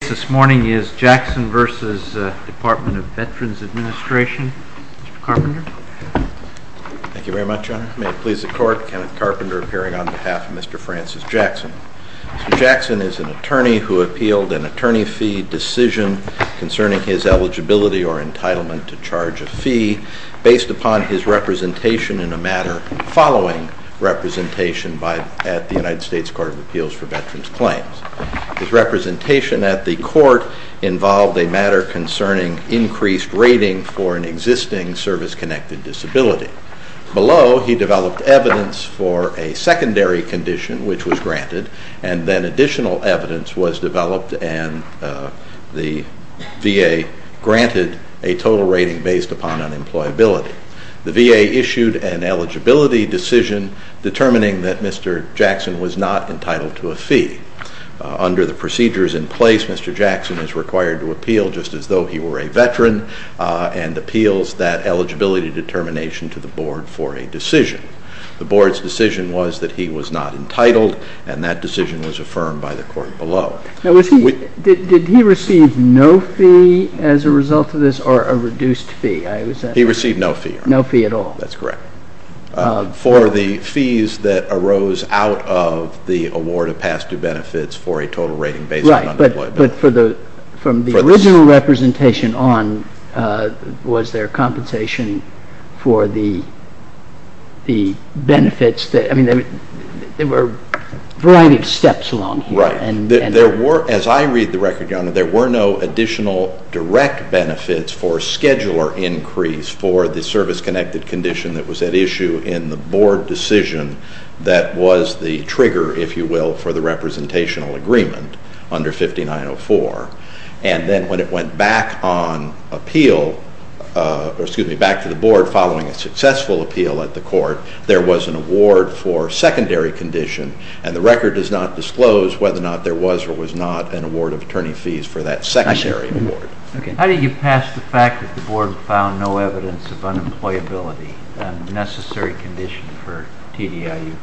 The case this morning is Jackson v. Department of Veterans Administration. Mr. Carpenter. Thank you very much, Your Honor. May it please the Court, Kenneth Carpenter appearing on behalf of Mr. Francis Jackson. Mr. Jackson is an attorney who appealed an attorney fee decision concerning his eligibility or entitlement to charge a fee, based upon his representation in a matter following representation at the United States Court of Appeals for Veterans Claims. His representation at the court involved a matter concerning increased rating for an existing service-connected disability. Below, he developed evidence for a secondary condition, which was granted, and then additional evidence was developed, and the VA granted a total rating based upon unemployability. The VA issued an eligibility decision determining that Mr. Jackson was not entitled to a fee. Under the procedures in place, Mr. Jackson is required to appeal just as though he were a veteran, and appeals that eligibility determination to the board for a decision. The board's decision was that he was not entitled, and that decision was affirmed by the court below. Now, did he receive no fee as a result of this, or a reduced fee? He received no fee. No fee at all. That's correct. For the fees that arose out of the award of past due benefits for a total rating based on unemployability. Right, but from the original representation on, was there compensation for the benefits? I mean, there were a variety of steps along here. As I read the record, Your Honor, there were no additional direct benefits for a scheduler increase for the service-connected condition that was at issue in the board decision that was the trigger, if you will, for the representational agreement under 5904. And then when it went back on appeal, or excuse me, back to the board following a successful appeal at the court, there was an award for secondary condition. And the record does not disclose whether or not there was or was not an award of attorney fees for that secondary award. How do you pass the fact that the board found no evidence of unemployability, a necessary condition for TDIU?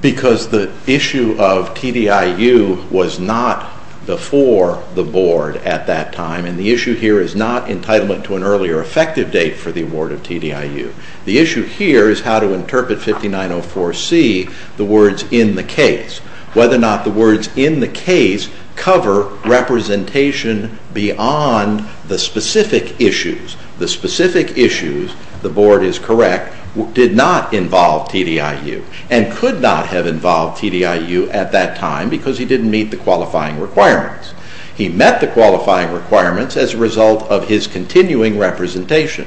Because the issue of TDIU was not before the board at that time, and the issue here is not entitlement to an earlier effective date for the award of TDIU. The issue here is how to interpret 5904C, the words in the case, whether or not the words in the case cover representation beyond the specific issues. The specific issues, the board is correct, did not involve TDIU, and could not have involved TDIU at that time because he didn't meet the qualifying requirements. He met the qualifying requirements as a result of his continuing representation.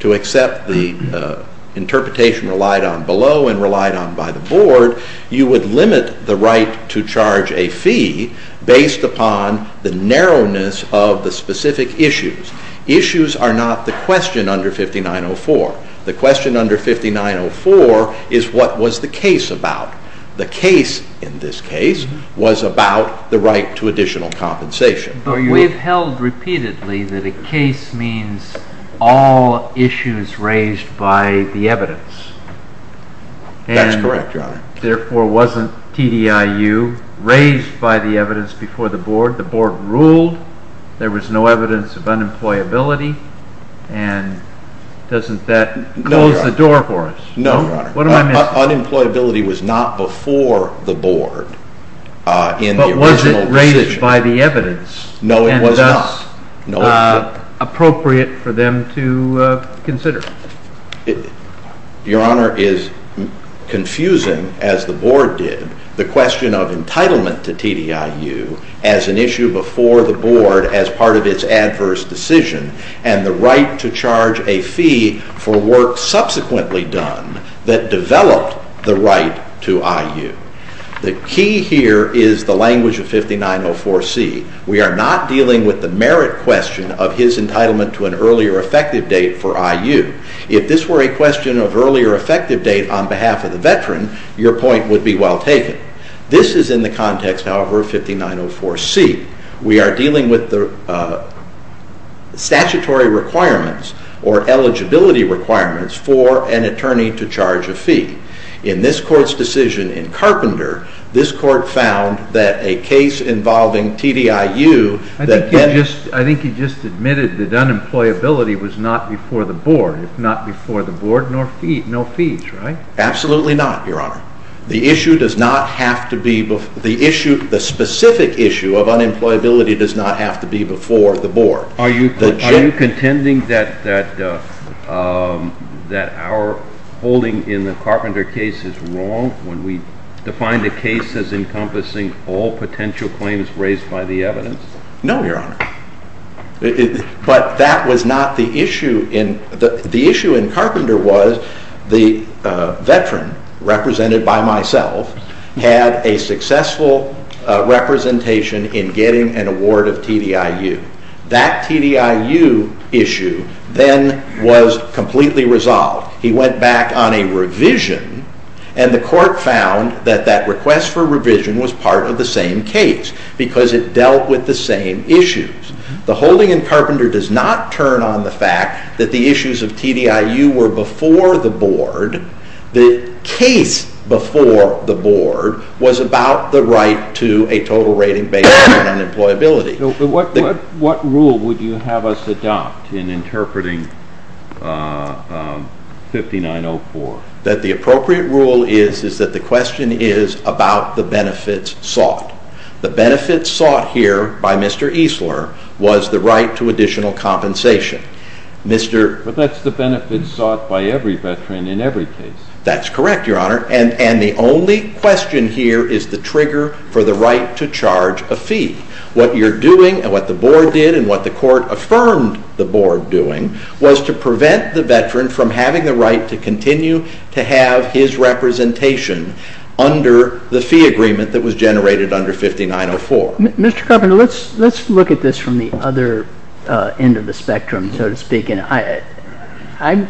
To accept the interpretation relied on below and relied on by the board, you would limit the right to charge a fee based upon the narrowness of the specific issues. Issues are not the question under 5904. The question under 5904 is what was the case about. The case in this case was about the right to additional compensation. But we've held repeatedly that a case means all issues raised by the evidence. That's correct, Your Honor. Therefore, wasn't TDIU raised by the evidence before the board? The board ruled there was no evidence of unemployability, and doesn't that close the door for us? No, Your Honor. What am I missing? Unemployability was not before the board in the original decision. No, it was not. And thus, appropriate for them to consider. Your Honor, it is confusing, as the board did, the question of entitlement to TDIU as an issue before the board as part of its adverse decision, and the right to charge a fee for work subsequently done that developed the right to IU. The key here is the language of 5904C. We are not dealing with the merit question of his entitlement to an earlier effective date for IU. If this were a question of earlier effective date on behalf of the veteran, your point would be well taken. This is in the context, however, of 5904C. We are dealing with the statutory requirements or eligibility requirements for an attorney to charge a fee. In this court's decision in Carpenter, this court found that a case involving TDIU— I think he just admitted that unemployability was not before the board. It's not before the board, nor fees, right? Absolutely not, Your Honor. The issue does not have to be—the specific issue of unemployability does not have to be before the board. Are you contending that our holding in the Carpenter case is wrong when we define the case as encompassing all potential claims raised by the evidence? No, Your Honor. But that was not the issue. The issue in Carpenter was the veteran, represented by myself, had a successful representation in getting an award of TDIU. That TDIU issue then was completely resolved. He went back on a revision, and the court found that that request for revision was part of the same case because it dealt with the same issues. The holding in Carpenter does not turn on the fact that the issues of TDIU were before the board. The case before the board was about the right to a total rating based on unemployability. What rule would you have us adopt in interpreting 5904? That the appropriate rule is that the question is about the benefits sought. The benefits sought here by Mr. Eesler was the right to additional compensation. But that's the benefits sought by every veteran in every case. That's correct, Your Honor, and the only question here is the trigger for the right to charge a fee. What you're doing and what the board did and what the court affirmed the board doing was to prevent the veteran from having the right to continue to have his representation under the fee agreement that was generated under 5904. Mr. Carpenter, let's look at this from the other end of the spectrum, so to speak. I'm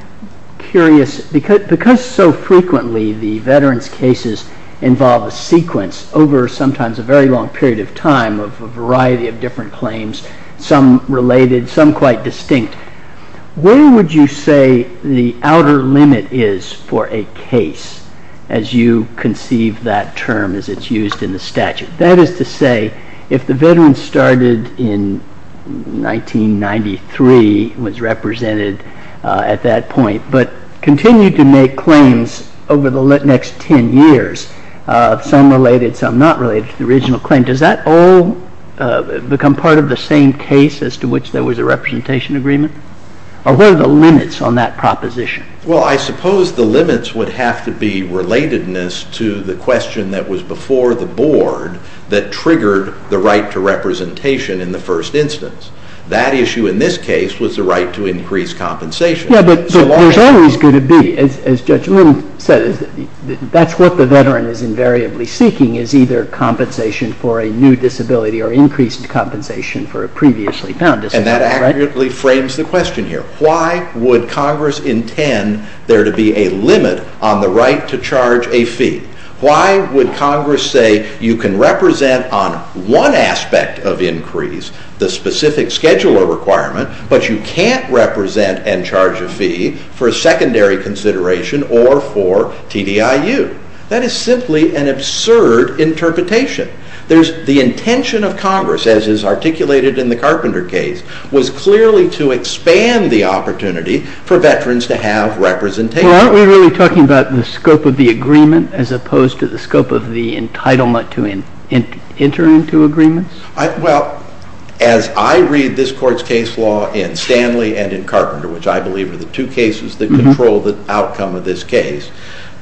curious, because so frequently the veterans' cases involve a sequence over sometimes a very long period of time of a variety of different claims, some related, some quite distinct. Where would you say the outer limit is for a case as you conceive that term as it's used in the statute? That is to say, if the veteran started in 1993, was represented at that point, but continued to make claims over the next 10 years, some related, some not related to the original claim, does that all become part of the same case as to which there was a representation agreement? Or what are the limits on that proposition? Well, I suppose the limits would have to be relatedness to the question that was before the board that triggered the right to representation in the first instance. That issue in this case was the right to increase compensation. Yes, but there's always going to be, as Judge Little said, that's what the veteran is invariably seeking is either compensation for a new disability or increased compensation for a previously found disability. And that accurately frames the question here. Why would Congress intend there to be a limit on the right to charge a fee? Why would Congress say you can represent on one aspect of increase the specific scheduler requirement, but you can't represent and charge a fee for a secondary consideration or for TDIU? That is simply an absurd interpretation. The intention of Congress, as is articulated in the Carpenter case, was clearly to expand the opportunity for veterans to have representation. Well, aren't we really talking about the scope of the agreement as opposed to the scope of the entitlement to enter into agreements? Well, as I read this Court's case law in Stanley and in Carpenter, which I believe are the two cases that control the outcome of this case,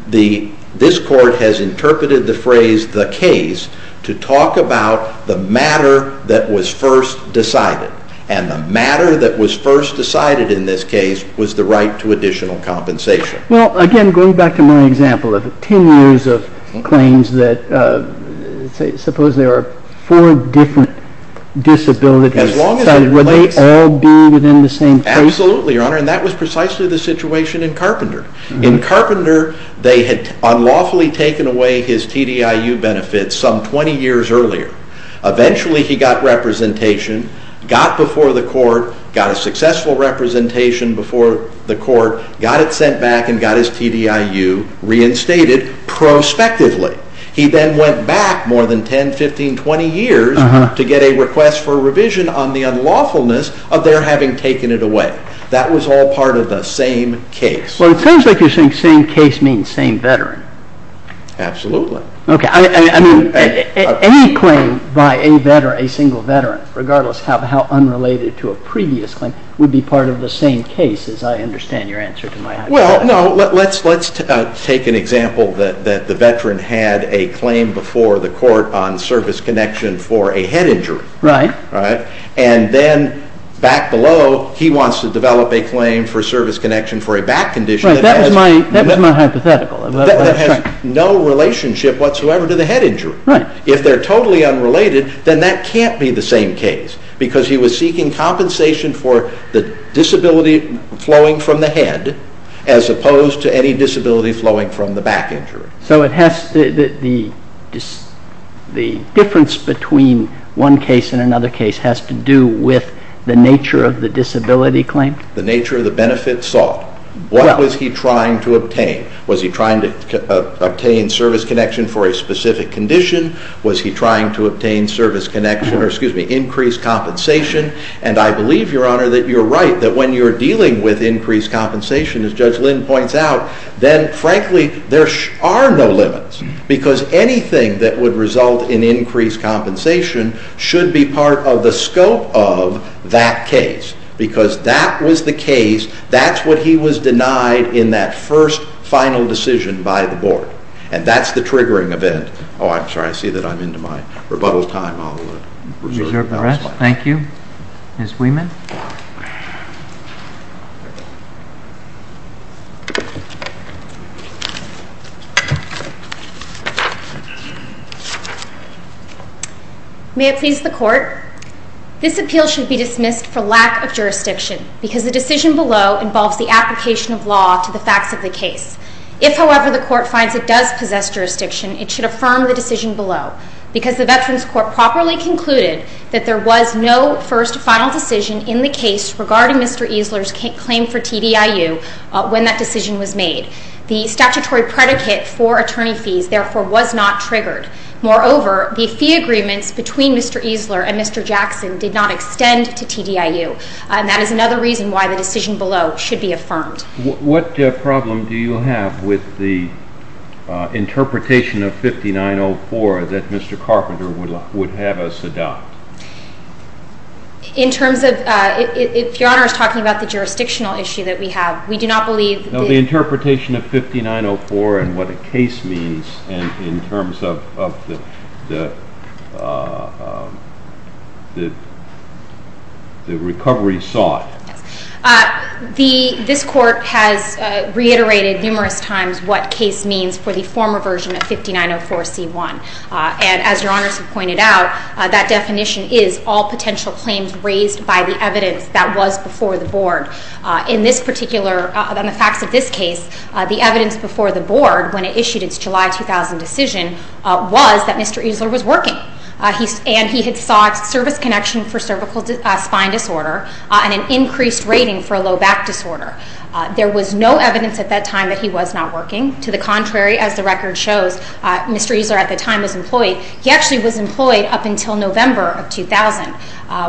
this Court has interpreted the phrase the case to talk about the matter that was first decided. And the matter that was first decided in this case was the right to additional compensation. Well, again, going back to my example of 10 years of claims that, suppose there are four different disabilities, would they all be within the same place? Absolutely, Your Honor. And that was precisely the situation in Carpenter. In Carpenter, they had unlawfully taken away his TDIU benefits some 20 years earlier. Eventually, he got representation, got before the Court, got a successful representation before the Court, got it sent back and got his TDIU reinstated prospectively. He then went back more than 10, 15, 20 years to get a request for revision on the unlawfulness of their having taken it away. That was all part of the same case. Well, it sounds like you're saying same case means same veteran. Absolutely. Okay, I mean, any claim by a veteran, a single veteran, regardless of how unrelated to a previous claim, would be part of the same case, as I understand your answer to my hypothetical. Well, no, let's take an example that the veteran had a claim before the Court on service connection for a head injury. Right. And then back below, he wants to develop a claim for service connection for a back condition. Right, that was my hypothetical. That has no relationship whatsoever to the head injury. Right. If they're totally unrelated, then that can't be the same case because he was seeking compensation for the disability flowing from the head as opposed to any disability flowing from the back injury. So the difference between one case and another case has to do with the nature of the disability claim? The nature of the benefit sought. What was he trying to obtain? Was he trying to obtain service connection for a specific condition? Was he trying to obtain service connection or, excuse me, increased compensation? And I believe, Your Honor, that you're right, that when you're dealing with increased compensation, as Judge Lynn points out, then, frankly, there are no limits because anything that would result in increased compensation should be part of the scope of that case because that was the case, that's what he was denied in that first final decision by the Board. And that's the triggering event. Oh, I'm sorry, I see that I'm into my rebuttal time. Reserve the rest. Thank you. Ms. Wieman. May it please the Court. This appeal should be dismissed for lack of jurisdiction because the decision below involves the application of law to the facts of the case. If, however, the Court finds it does possess jurisdiction, it should affirm the decision below because the Veterans Court properly concluded that there was no first final decision in the case regarding Mr. Eesler's claim for TDIU when that decision was made. The statutory predicate for attorney fees, therefore, was not triggered. Moreover, the fee agreements between Mr. Eesler and Mr. Jackson did not extend to TDIU and that is another reason why the decision below should be affirmed. What problem do you have with the interpretation of 5904 that Mr. Carpenter would have us adopt? In terms of, if Your Honor is talking about the jurisdictional issue that we have, we do not believe... No, the interpretation of 5904 and what a case means in terms of the recovery sought. This Court has reiterated numerous times what case means for the former version of 5904C1 and as Your Honor has pointed out, that definition is all potential claims raised by the evidence that was before the Board. In this particular, in the facts of this case, the evidence before the Board when it issued its July 2000 decision was that Mr. Eesler was working and he had sought service connection for cervical spine disorder and an increased rating for low back disorder. There was no evidence at that time that he was not working. To the contrary, as the record shows, Mr. Eesler at the time was employed. He actually was employed up until November of 2000,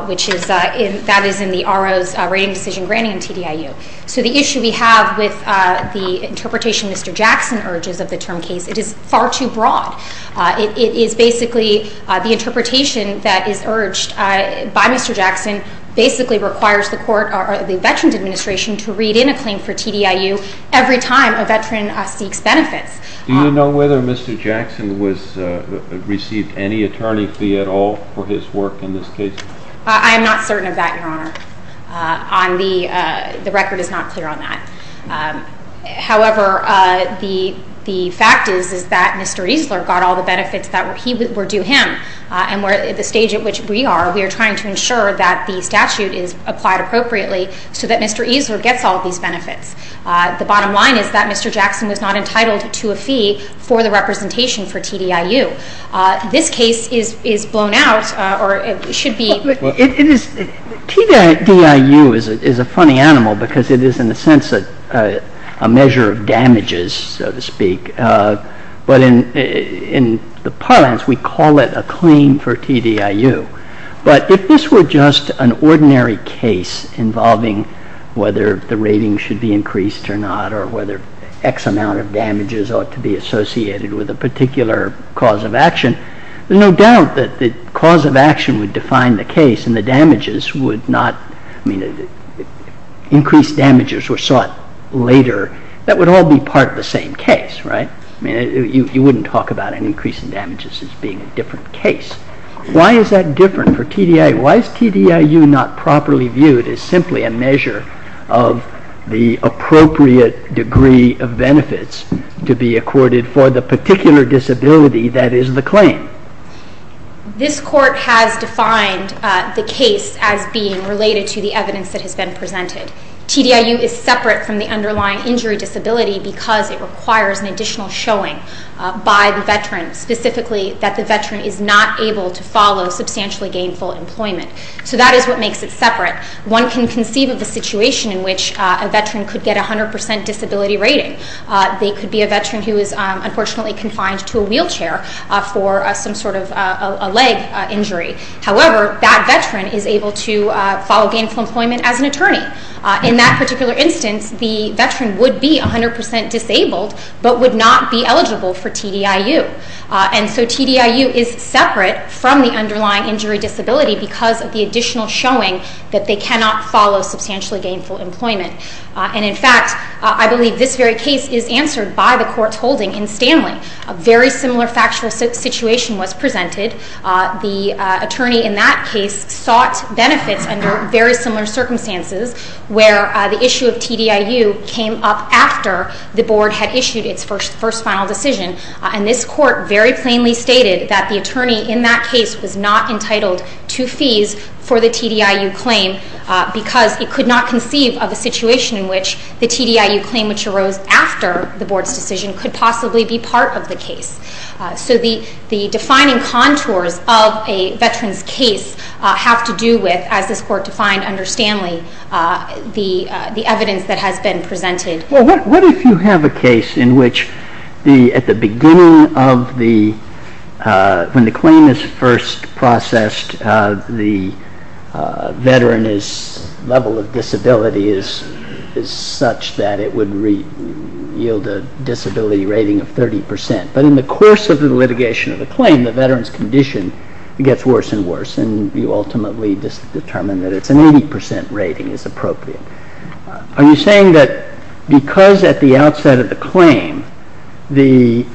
which is in the RO's rating decision granting in TDIU. So the issue we have with the interpretation Mr. Jackson urges of the term case, it is far too broad. It is basically the interpretation that is urged by Mr. Jackson basically requires the Veterans Administration to read in a claim for TDIU every time a veteran seeks benefits. Do you know whether Mr. Jackson received any attorney fee at all for his work in this case? I am not certain of that, Your Honor. The record is not clear on that. However, the fact is that Mr. Eesler got all the benefits that were due him. At the stage at which we are, we are trying to ensure that the statute is applied appropriately so that Mr. Eesler gets all these benefits. The bottom line is that Mr. Jackson was not entitled to a fee for the representation for TDIU. This case is blown out or it should be... TDIU is a funny animal because it is in a sense a measure of damages, so to speak. But in the parlance, we call it a claim for TDIU. But if this were just an ordinary case involving whether the rating should be increased or not or whether X amount of damages ought to be associated with a particular cause of action, there's no doubt that the cause of action would define the case and the damages would not... I mean, increased damages were sought later. That would all be part of the same case, right? I mean, you wouldn't talk about an increase in damages as being a different case. Why is that different for TDIU? Why is TDIU not properly viewed as simply a measure of the appropriate degree of benefits to be accorded for the particular disability that is the claim? This court has defined the case as being related to the evidence that has been presented. TDIU is separate from the underlying injury disability because it requires an additional showing by the veteran, specifically that the veteran is not able to follow substantially gainful employment. So that is what makes it separate. One can conceive of a situation in which a veteran could get a 100% disability rating. They could be a veteran who is unfortunately confined to a wheelchair for some sort of a leg injury. However, that veteran is able to follow gainful employment as an attorney. In that particular instance, the veteran would be 100% disabled but would not be eligible for TDIU. And so TDIU is separate from the underlying injury disability because of the additional showing that they cannot follow substantially gainful employment. And in fact, I believe this very case is answered by the court's holding in Stanley. A very similar factual situation was presented. The attorney in that case sought benefits under very similar circumstances where the issue of TDIU came up after the board had issued its first final decision. And this court very plainly stated that the attorney in that case was not entitled to fees for the TDIU claim because he could not conceive of a situation in which the TDIU claim which arose after the board's decision could possibly be part of the case. So the defining contours of a veteran's case have to do with, as this court defined under Stanley, the evidence that has been presented. Well, what if you have a case in which at the beginning of the, when the claim is first processed, the veteran's level of disability is such that it would yield a disability rating of 30%. But in the course of the litigation of the claim, the veteran's condition gets worse and worse and you ultimately determine that it's an 80% rating is appropriate. Are you saying that because at the outset of the claim the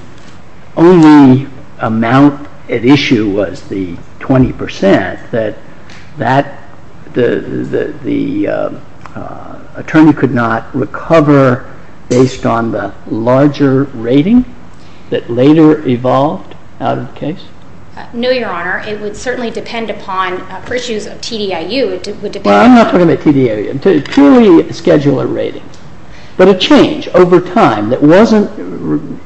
only amount at issue was the 20% that the attorney could not recover based on the larger rating that later evolved out of the case? No, Your Honor. It would certainly depend upon, for issues of TDIU, it would depend on… Well, I'm not talking about TDIU. I'm talking about purely a scheduler rating. But a change over time that wasn't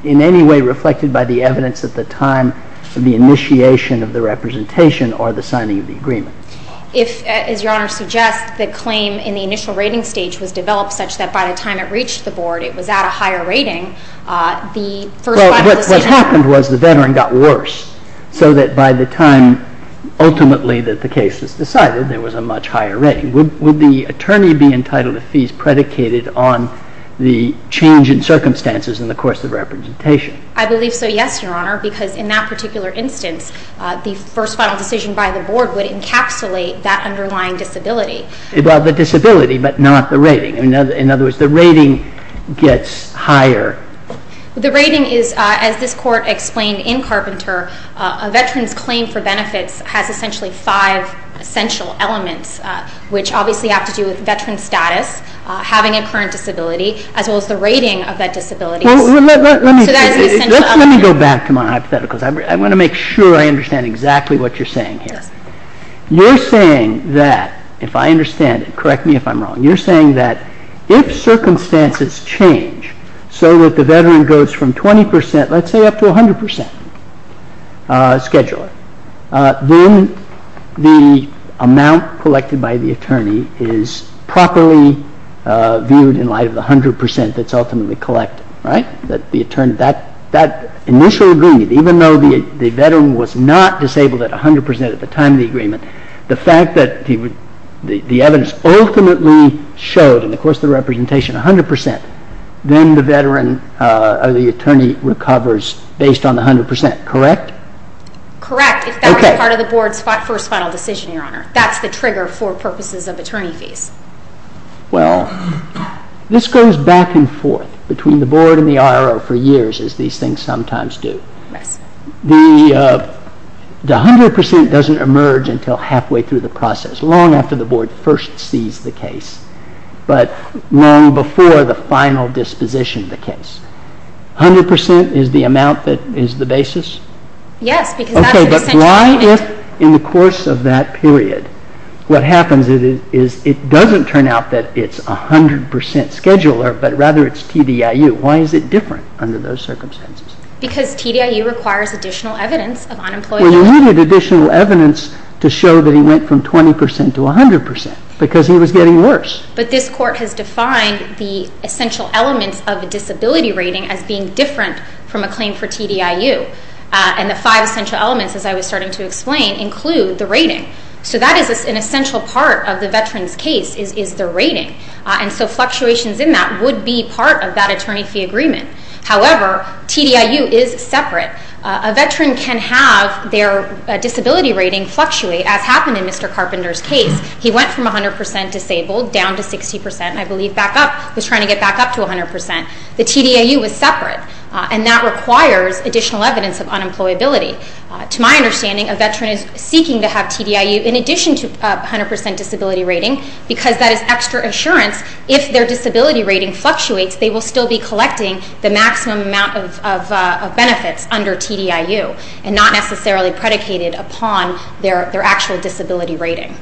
in any way reflected by the evidence at the time of the initiation of the representation or the signing of the agreement. If, as Your Honor suggests, the claim in the initial rating stage was developed such that by the time it reached the board it was at a higher rating, the first five decisions… Well, what happened was the veteran got worse so that by the time ultimately that the case was decided there was a much higher rating. Would the attorney be entitled to fees predicated on the change in circumstances in the course of representation? I believe so, yes, Your Honor, because in that particular instance the first final decision by the board would encapsulate that underlying disability. Well, the disability but not the rating. In other words, the rating gets higher. The rating is, as this Court explained in Carpenter, a veteran's claim for benefits has essentially five essential elements, which obviously have to do with veteran status, having a current disability, as well as the rating of that disability. Let me go back to my hypotheticals. I want to make sure I understand exactly what you're saying here. You're saying that, if I understand it, correct me if I'm wrong, you're saying that if circumstances change so that the veteran goes from 20 percent, let's say up to 100 percent scheduler, then the amount collected by the attorney is properly viewed in light of the 100 percent that's ultimately collected, right? That initial agreement, even though the veteran was not disabled at 100 percent at the time of the agreement, the fact that the evidence ultimately showed in the course of the representation 100 percent, then the attorney recovers based on the 100 percent, correct? Correct, if that was part of the Board's first final decision, Your Honor. That's the trigger for purposes of attorney fees. Well, this goes back and forth between the Board and the IRO for years, as these things sometimes do. The 100 percent doesn't emerge until halfway through the process, long after the Board first sees the case, but long before the final disposition of the case. 100 percent is the amount that is the basis? Yes. Okay, but why if, in the course of that period, what happens is it doesn't turn out that it's 100 percent scheduler, but rather it's TDIU. Why is it different under those circumstances? Because TDIU requires additional evidence of unemployment. Well, you needed additional evidence to show that he went from 20 percent to 100 percent because he was getting worse. But this Court has defined the essential elements of a disability rating as being different from a claim for TDIU, and the five essential elements, as I was starting to explain, include the rating. So that is an essential part of the veteran's case is the rating, and so fluctuations in that would be part of that attorney fee agreement. However, TDIU is separate. A veteran can have their disability rating fluctuate, as happened in Mr. Carpenter's case. He went from 100 percent disabled down to 60 percent, and I believe was trying to get back up to 100 percent. The TDIU was separate, and that requires additional evidence of unemployability. To my understanding, a veteran is seeking to have TDIU in addition to 100 percent disability rating because that is extra assurance if their disability rating fluctuates, they will still be collecting the maximum amount of benefits under TDIU and not necessarily predicated upon their actual disability rating.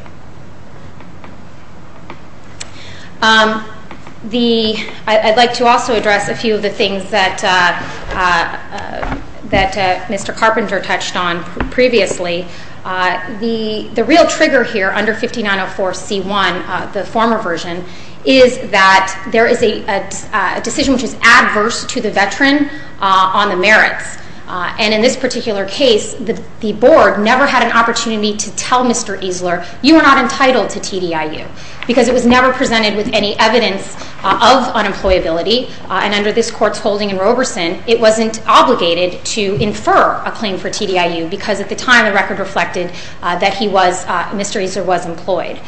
I'd like to also address a few of the things that Mr. Carpenter touched on previously. The real trigger here under 5904C1, the former version, is that there is a decision which is adverse to the veteran on the merits, and in this particular case, the Board never had an opportunity to tell Mr. Eesler, you are not entitled to TDIU because it was never presented with any evidence of unemployability, and under this Court's holding in Roberson, it wasn't obligated to infer a claim for TDIU because at the time the record reflected that Mr. Eesler was employed.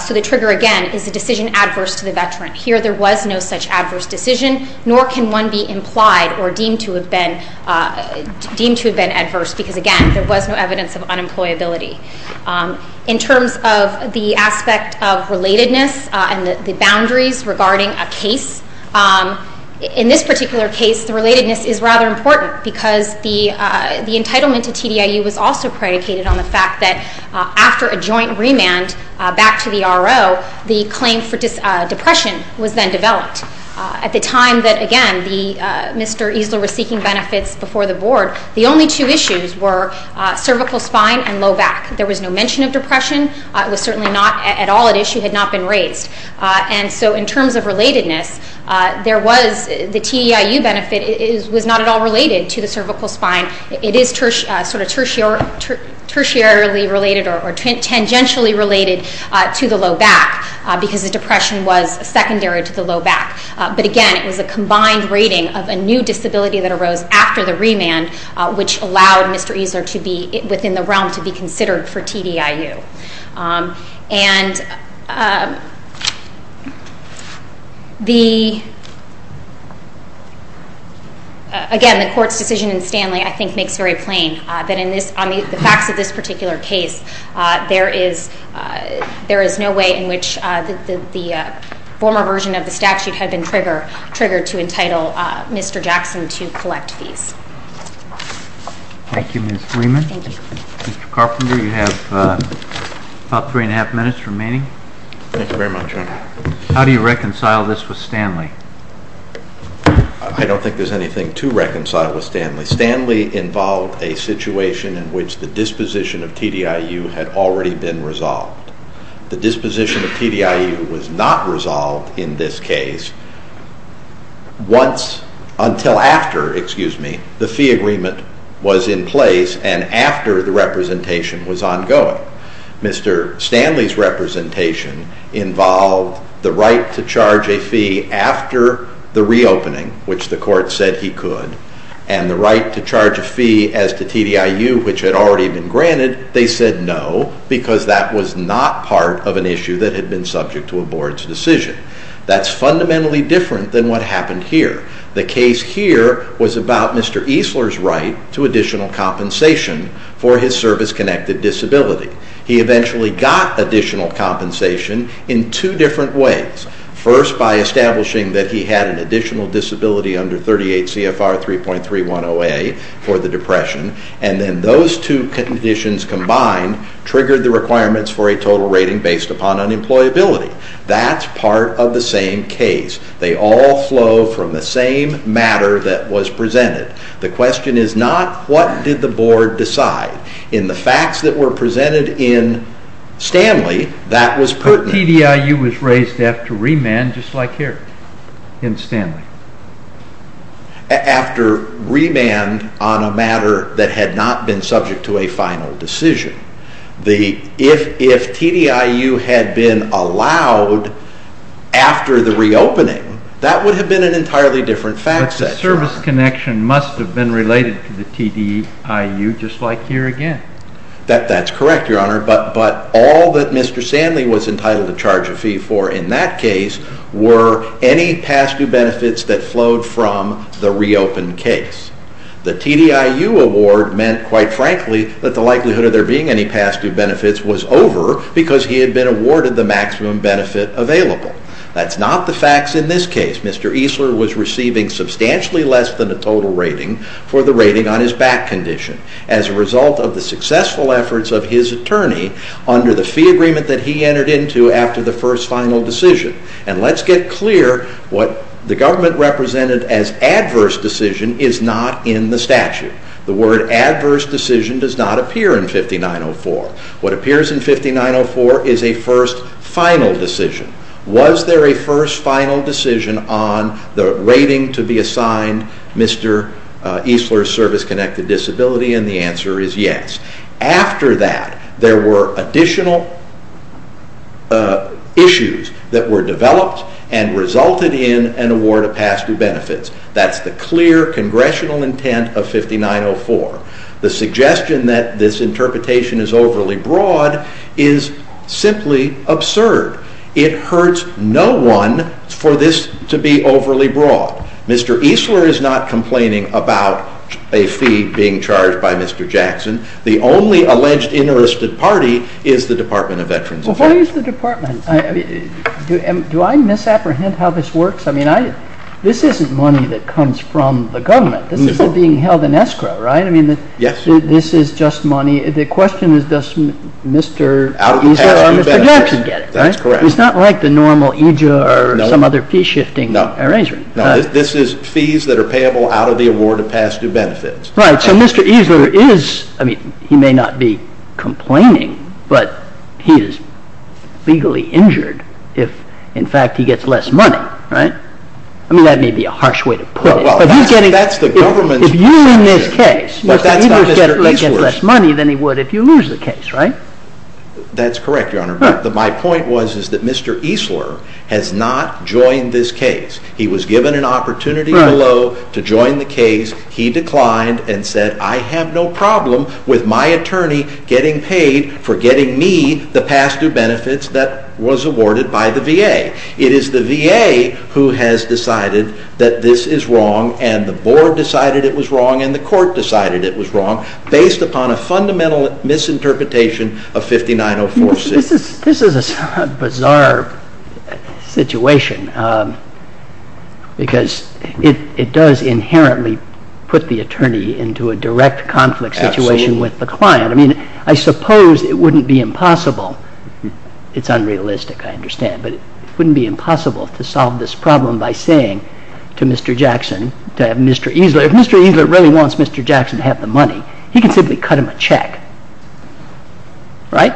So the trigger, again, is a decision adverse to the veteran. Here there was no such adverse decision, nor can one be implied or deemed to have been adverse because, again, there was no evidence of unemployability. In terms of the aspect of relatedness and the boundaries regarding a case, in this particular case the relatedness is rather important because the entitlement to TDIU was also predicated on the fact that after a joint remand back to the RO, the claim for depression was then developed. At the time that, again, Mr. Eesler was seeking benefits before the Board, the only two issues were cervical spine and low back. There was no mention of depression. It was certainly not at all an issue that had not been raised. And so in terms of relatedness, the TDIU benefit was not at all related to the cervical spine. It is sort of tertiary related or tangentially related to the low back because the depression was secondary to the low back. But, again, it was a combined rating of a new disability that arose after the remand, which allowed Mr. Eesler to be within the realm to be considered for TDIU. And, again, the Court's decision in Stanley, I think, makes very plain that in the facts of this particular case, there is no way in which the former version of the statute had been triggered to entitle Mr. Jackson to collect fees. Thank you, Ms. Freeman. Thank you. Mr. Carpenter, you have about three and a half minutes remaining. Thank you very much, Your Honor. How do you reconcile this with Stanley? I don't think there's anything to reconcile with Stanley. Stanley involved a situation in which the disposition of TDIU had already been resolved. The disposition of TDIU was not resolved in this case until after the fee agreement was in place and after the representation was ongoing. Mr. Stanley's representation involved the right to charge a fee after the reopening, which the Court said he could, and the right to charge a fee as to TDIU, which had already been granted. They said no because that was not part of an issue that had been subject to a Board's decision. That's fundamentally different than what happened here. The case here was about Mr. Eesler's right to additional compensation for his service-connected disability. He eventually got additional compensation in two different ways. First, by establishing that he had an additional disability under 38 CFR 3.310A for the depression, and then those two conditions combined triggered the requirements for a total rating based upon unemployability. That's part of the same case. They all flow from the same matter that was presented. The question is not what did the Board decide. In the facts that were presented in Stanley, that was pertinent. TDIU was raised after remand just like here in Stanley. After remand on a matter that had not been subject to a final decision. If TDIU had been allowed after the reopening, that would have been an entirely different fact set. But the service connection must have been related to the TDIU just like here again. That's correct, Your Honor, but all that Mr. Stanley was entitled to charge a fee for in that case were any past due benefits that flowed from the reopened case. The TDIU award meant, quite frankly, that the likelihood of there being any past due benefits was over because he had been awarded the maximum benefit available. That's not the facts in this case. Mr. Eesler was receiving substantially less than a total rating for the rating on his back condition. As a result of the successful efforts of his attorney under the fee agreement that he entered into after the first final decision. And let's get clear, what the government represented as adverse decision is not in the statute. The word adverse decision does not appear in 5904. What appears in 5904 is a first final decision. Was there a first final decision on the rating to be assigned Mr. Eesler's service-connected disability? And the answer is yes. After that, there were additional issues that were developed and resulted in an award of past due benefits. That's the clear congressional intent of 5904. The suggestion that this interpretation is overly broad is simply absurd. It hurts no one for this to be overly broad. Mr. Eesler is not complaining about a fee being charged by Mr. Jackson. The only alleged interested party is the Department of Veterans Affairs. Well, who is the department? Do I misapprehend how this works? I mean, this isn't money that comes from the government. This isn't being held in escrow, right? I mean, this is just money. The question is, does Mr. Eesler or Mr. Jackson get it? That's correct. It's not like the normal EJA or some other fee-shifting arrangement. No. This is fees that are payable out of the award of past due benefits. Right. So Mr. Eesler is, I mean, he may not be complaining, but he is legally injured if, in fact, he gets less money, right? I mean, that may be a harsh way to put it. That's the government's perspective. If you win this case, Mr. Eesler gets less money than he would if you lose the case, right? That's correct, Your Honor. But my point was is that Mr. Eesler has not joined this case. He was given an opportunity below to join the case. He declined and said, I have no problem with my attorney getting paid for getting me the past due benefits that was awarded by the VA. It is the VA who has decided that this is wrong, and the board decided it was wrong, and the court decided it was wrong, based upon a fundamental misinterpretation of 59046. This is a bizarre situation because it does inherently put the attorney into a direct conflict situation with the client. I mean, I suppose it wouldn't be impossible. It's unrealistic, I understand, but it wouldn't be impossible to solve this problem by saying to Mr. Jackson, to Mr. Eesler, if Mr. Eesler really wants Mr. Jackson to have the money, he can simply cut him a check, right?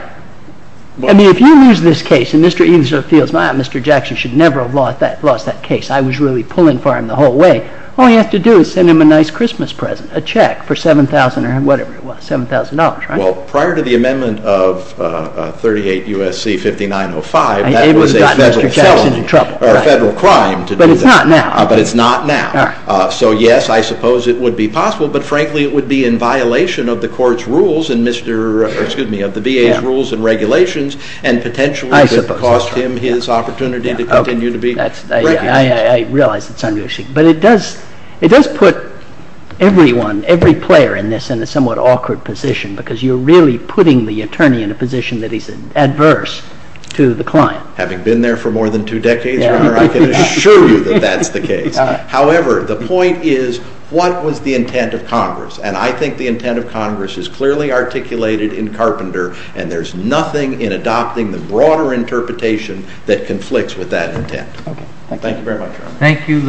I mean, if you lose this case and Mr. Eesler feels, well, Mr. Jackson should never have lost that case. I was really pulling for him the whole way. All he has to do is send him a nice Christmas present, a check for $7,000 or whatever it was, $7,000, right? Well, prior to the amendment of 38 U.S.C. 5905, that was a federal crime to do that. But it's not now. But it's not now. So, yes, I suppose it would be possible, but frankly, it would be in violation of the court's rules and Mr. – excuse me, of the VA's rules and regulations and potentially would cost him his opportunity to continue to be – I realize it's unrealistic, but it does put everyone, every player in this in a somewhat awkward position because you're really putting the attorney in a position that is adverse to the client. Having been there for more than two decades, Your Honor, I can assure you that that's the case. However, the point is, what was the intent of Congress? And I think the intent of Congress is clearly articulated in Carpenter, and there's nothing in adopting the broader interpretation that conflicts with that intent. Thank you very much, Your Honor. Thank you.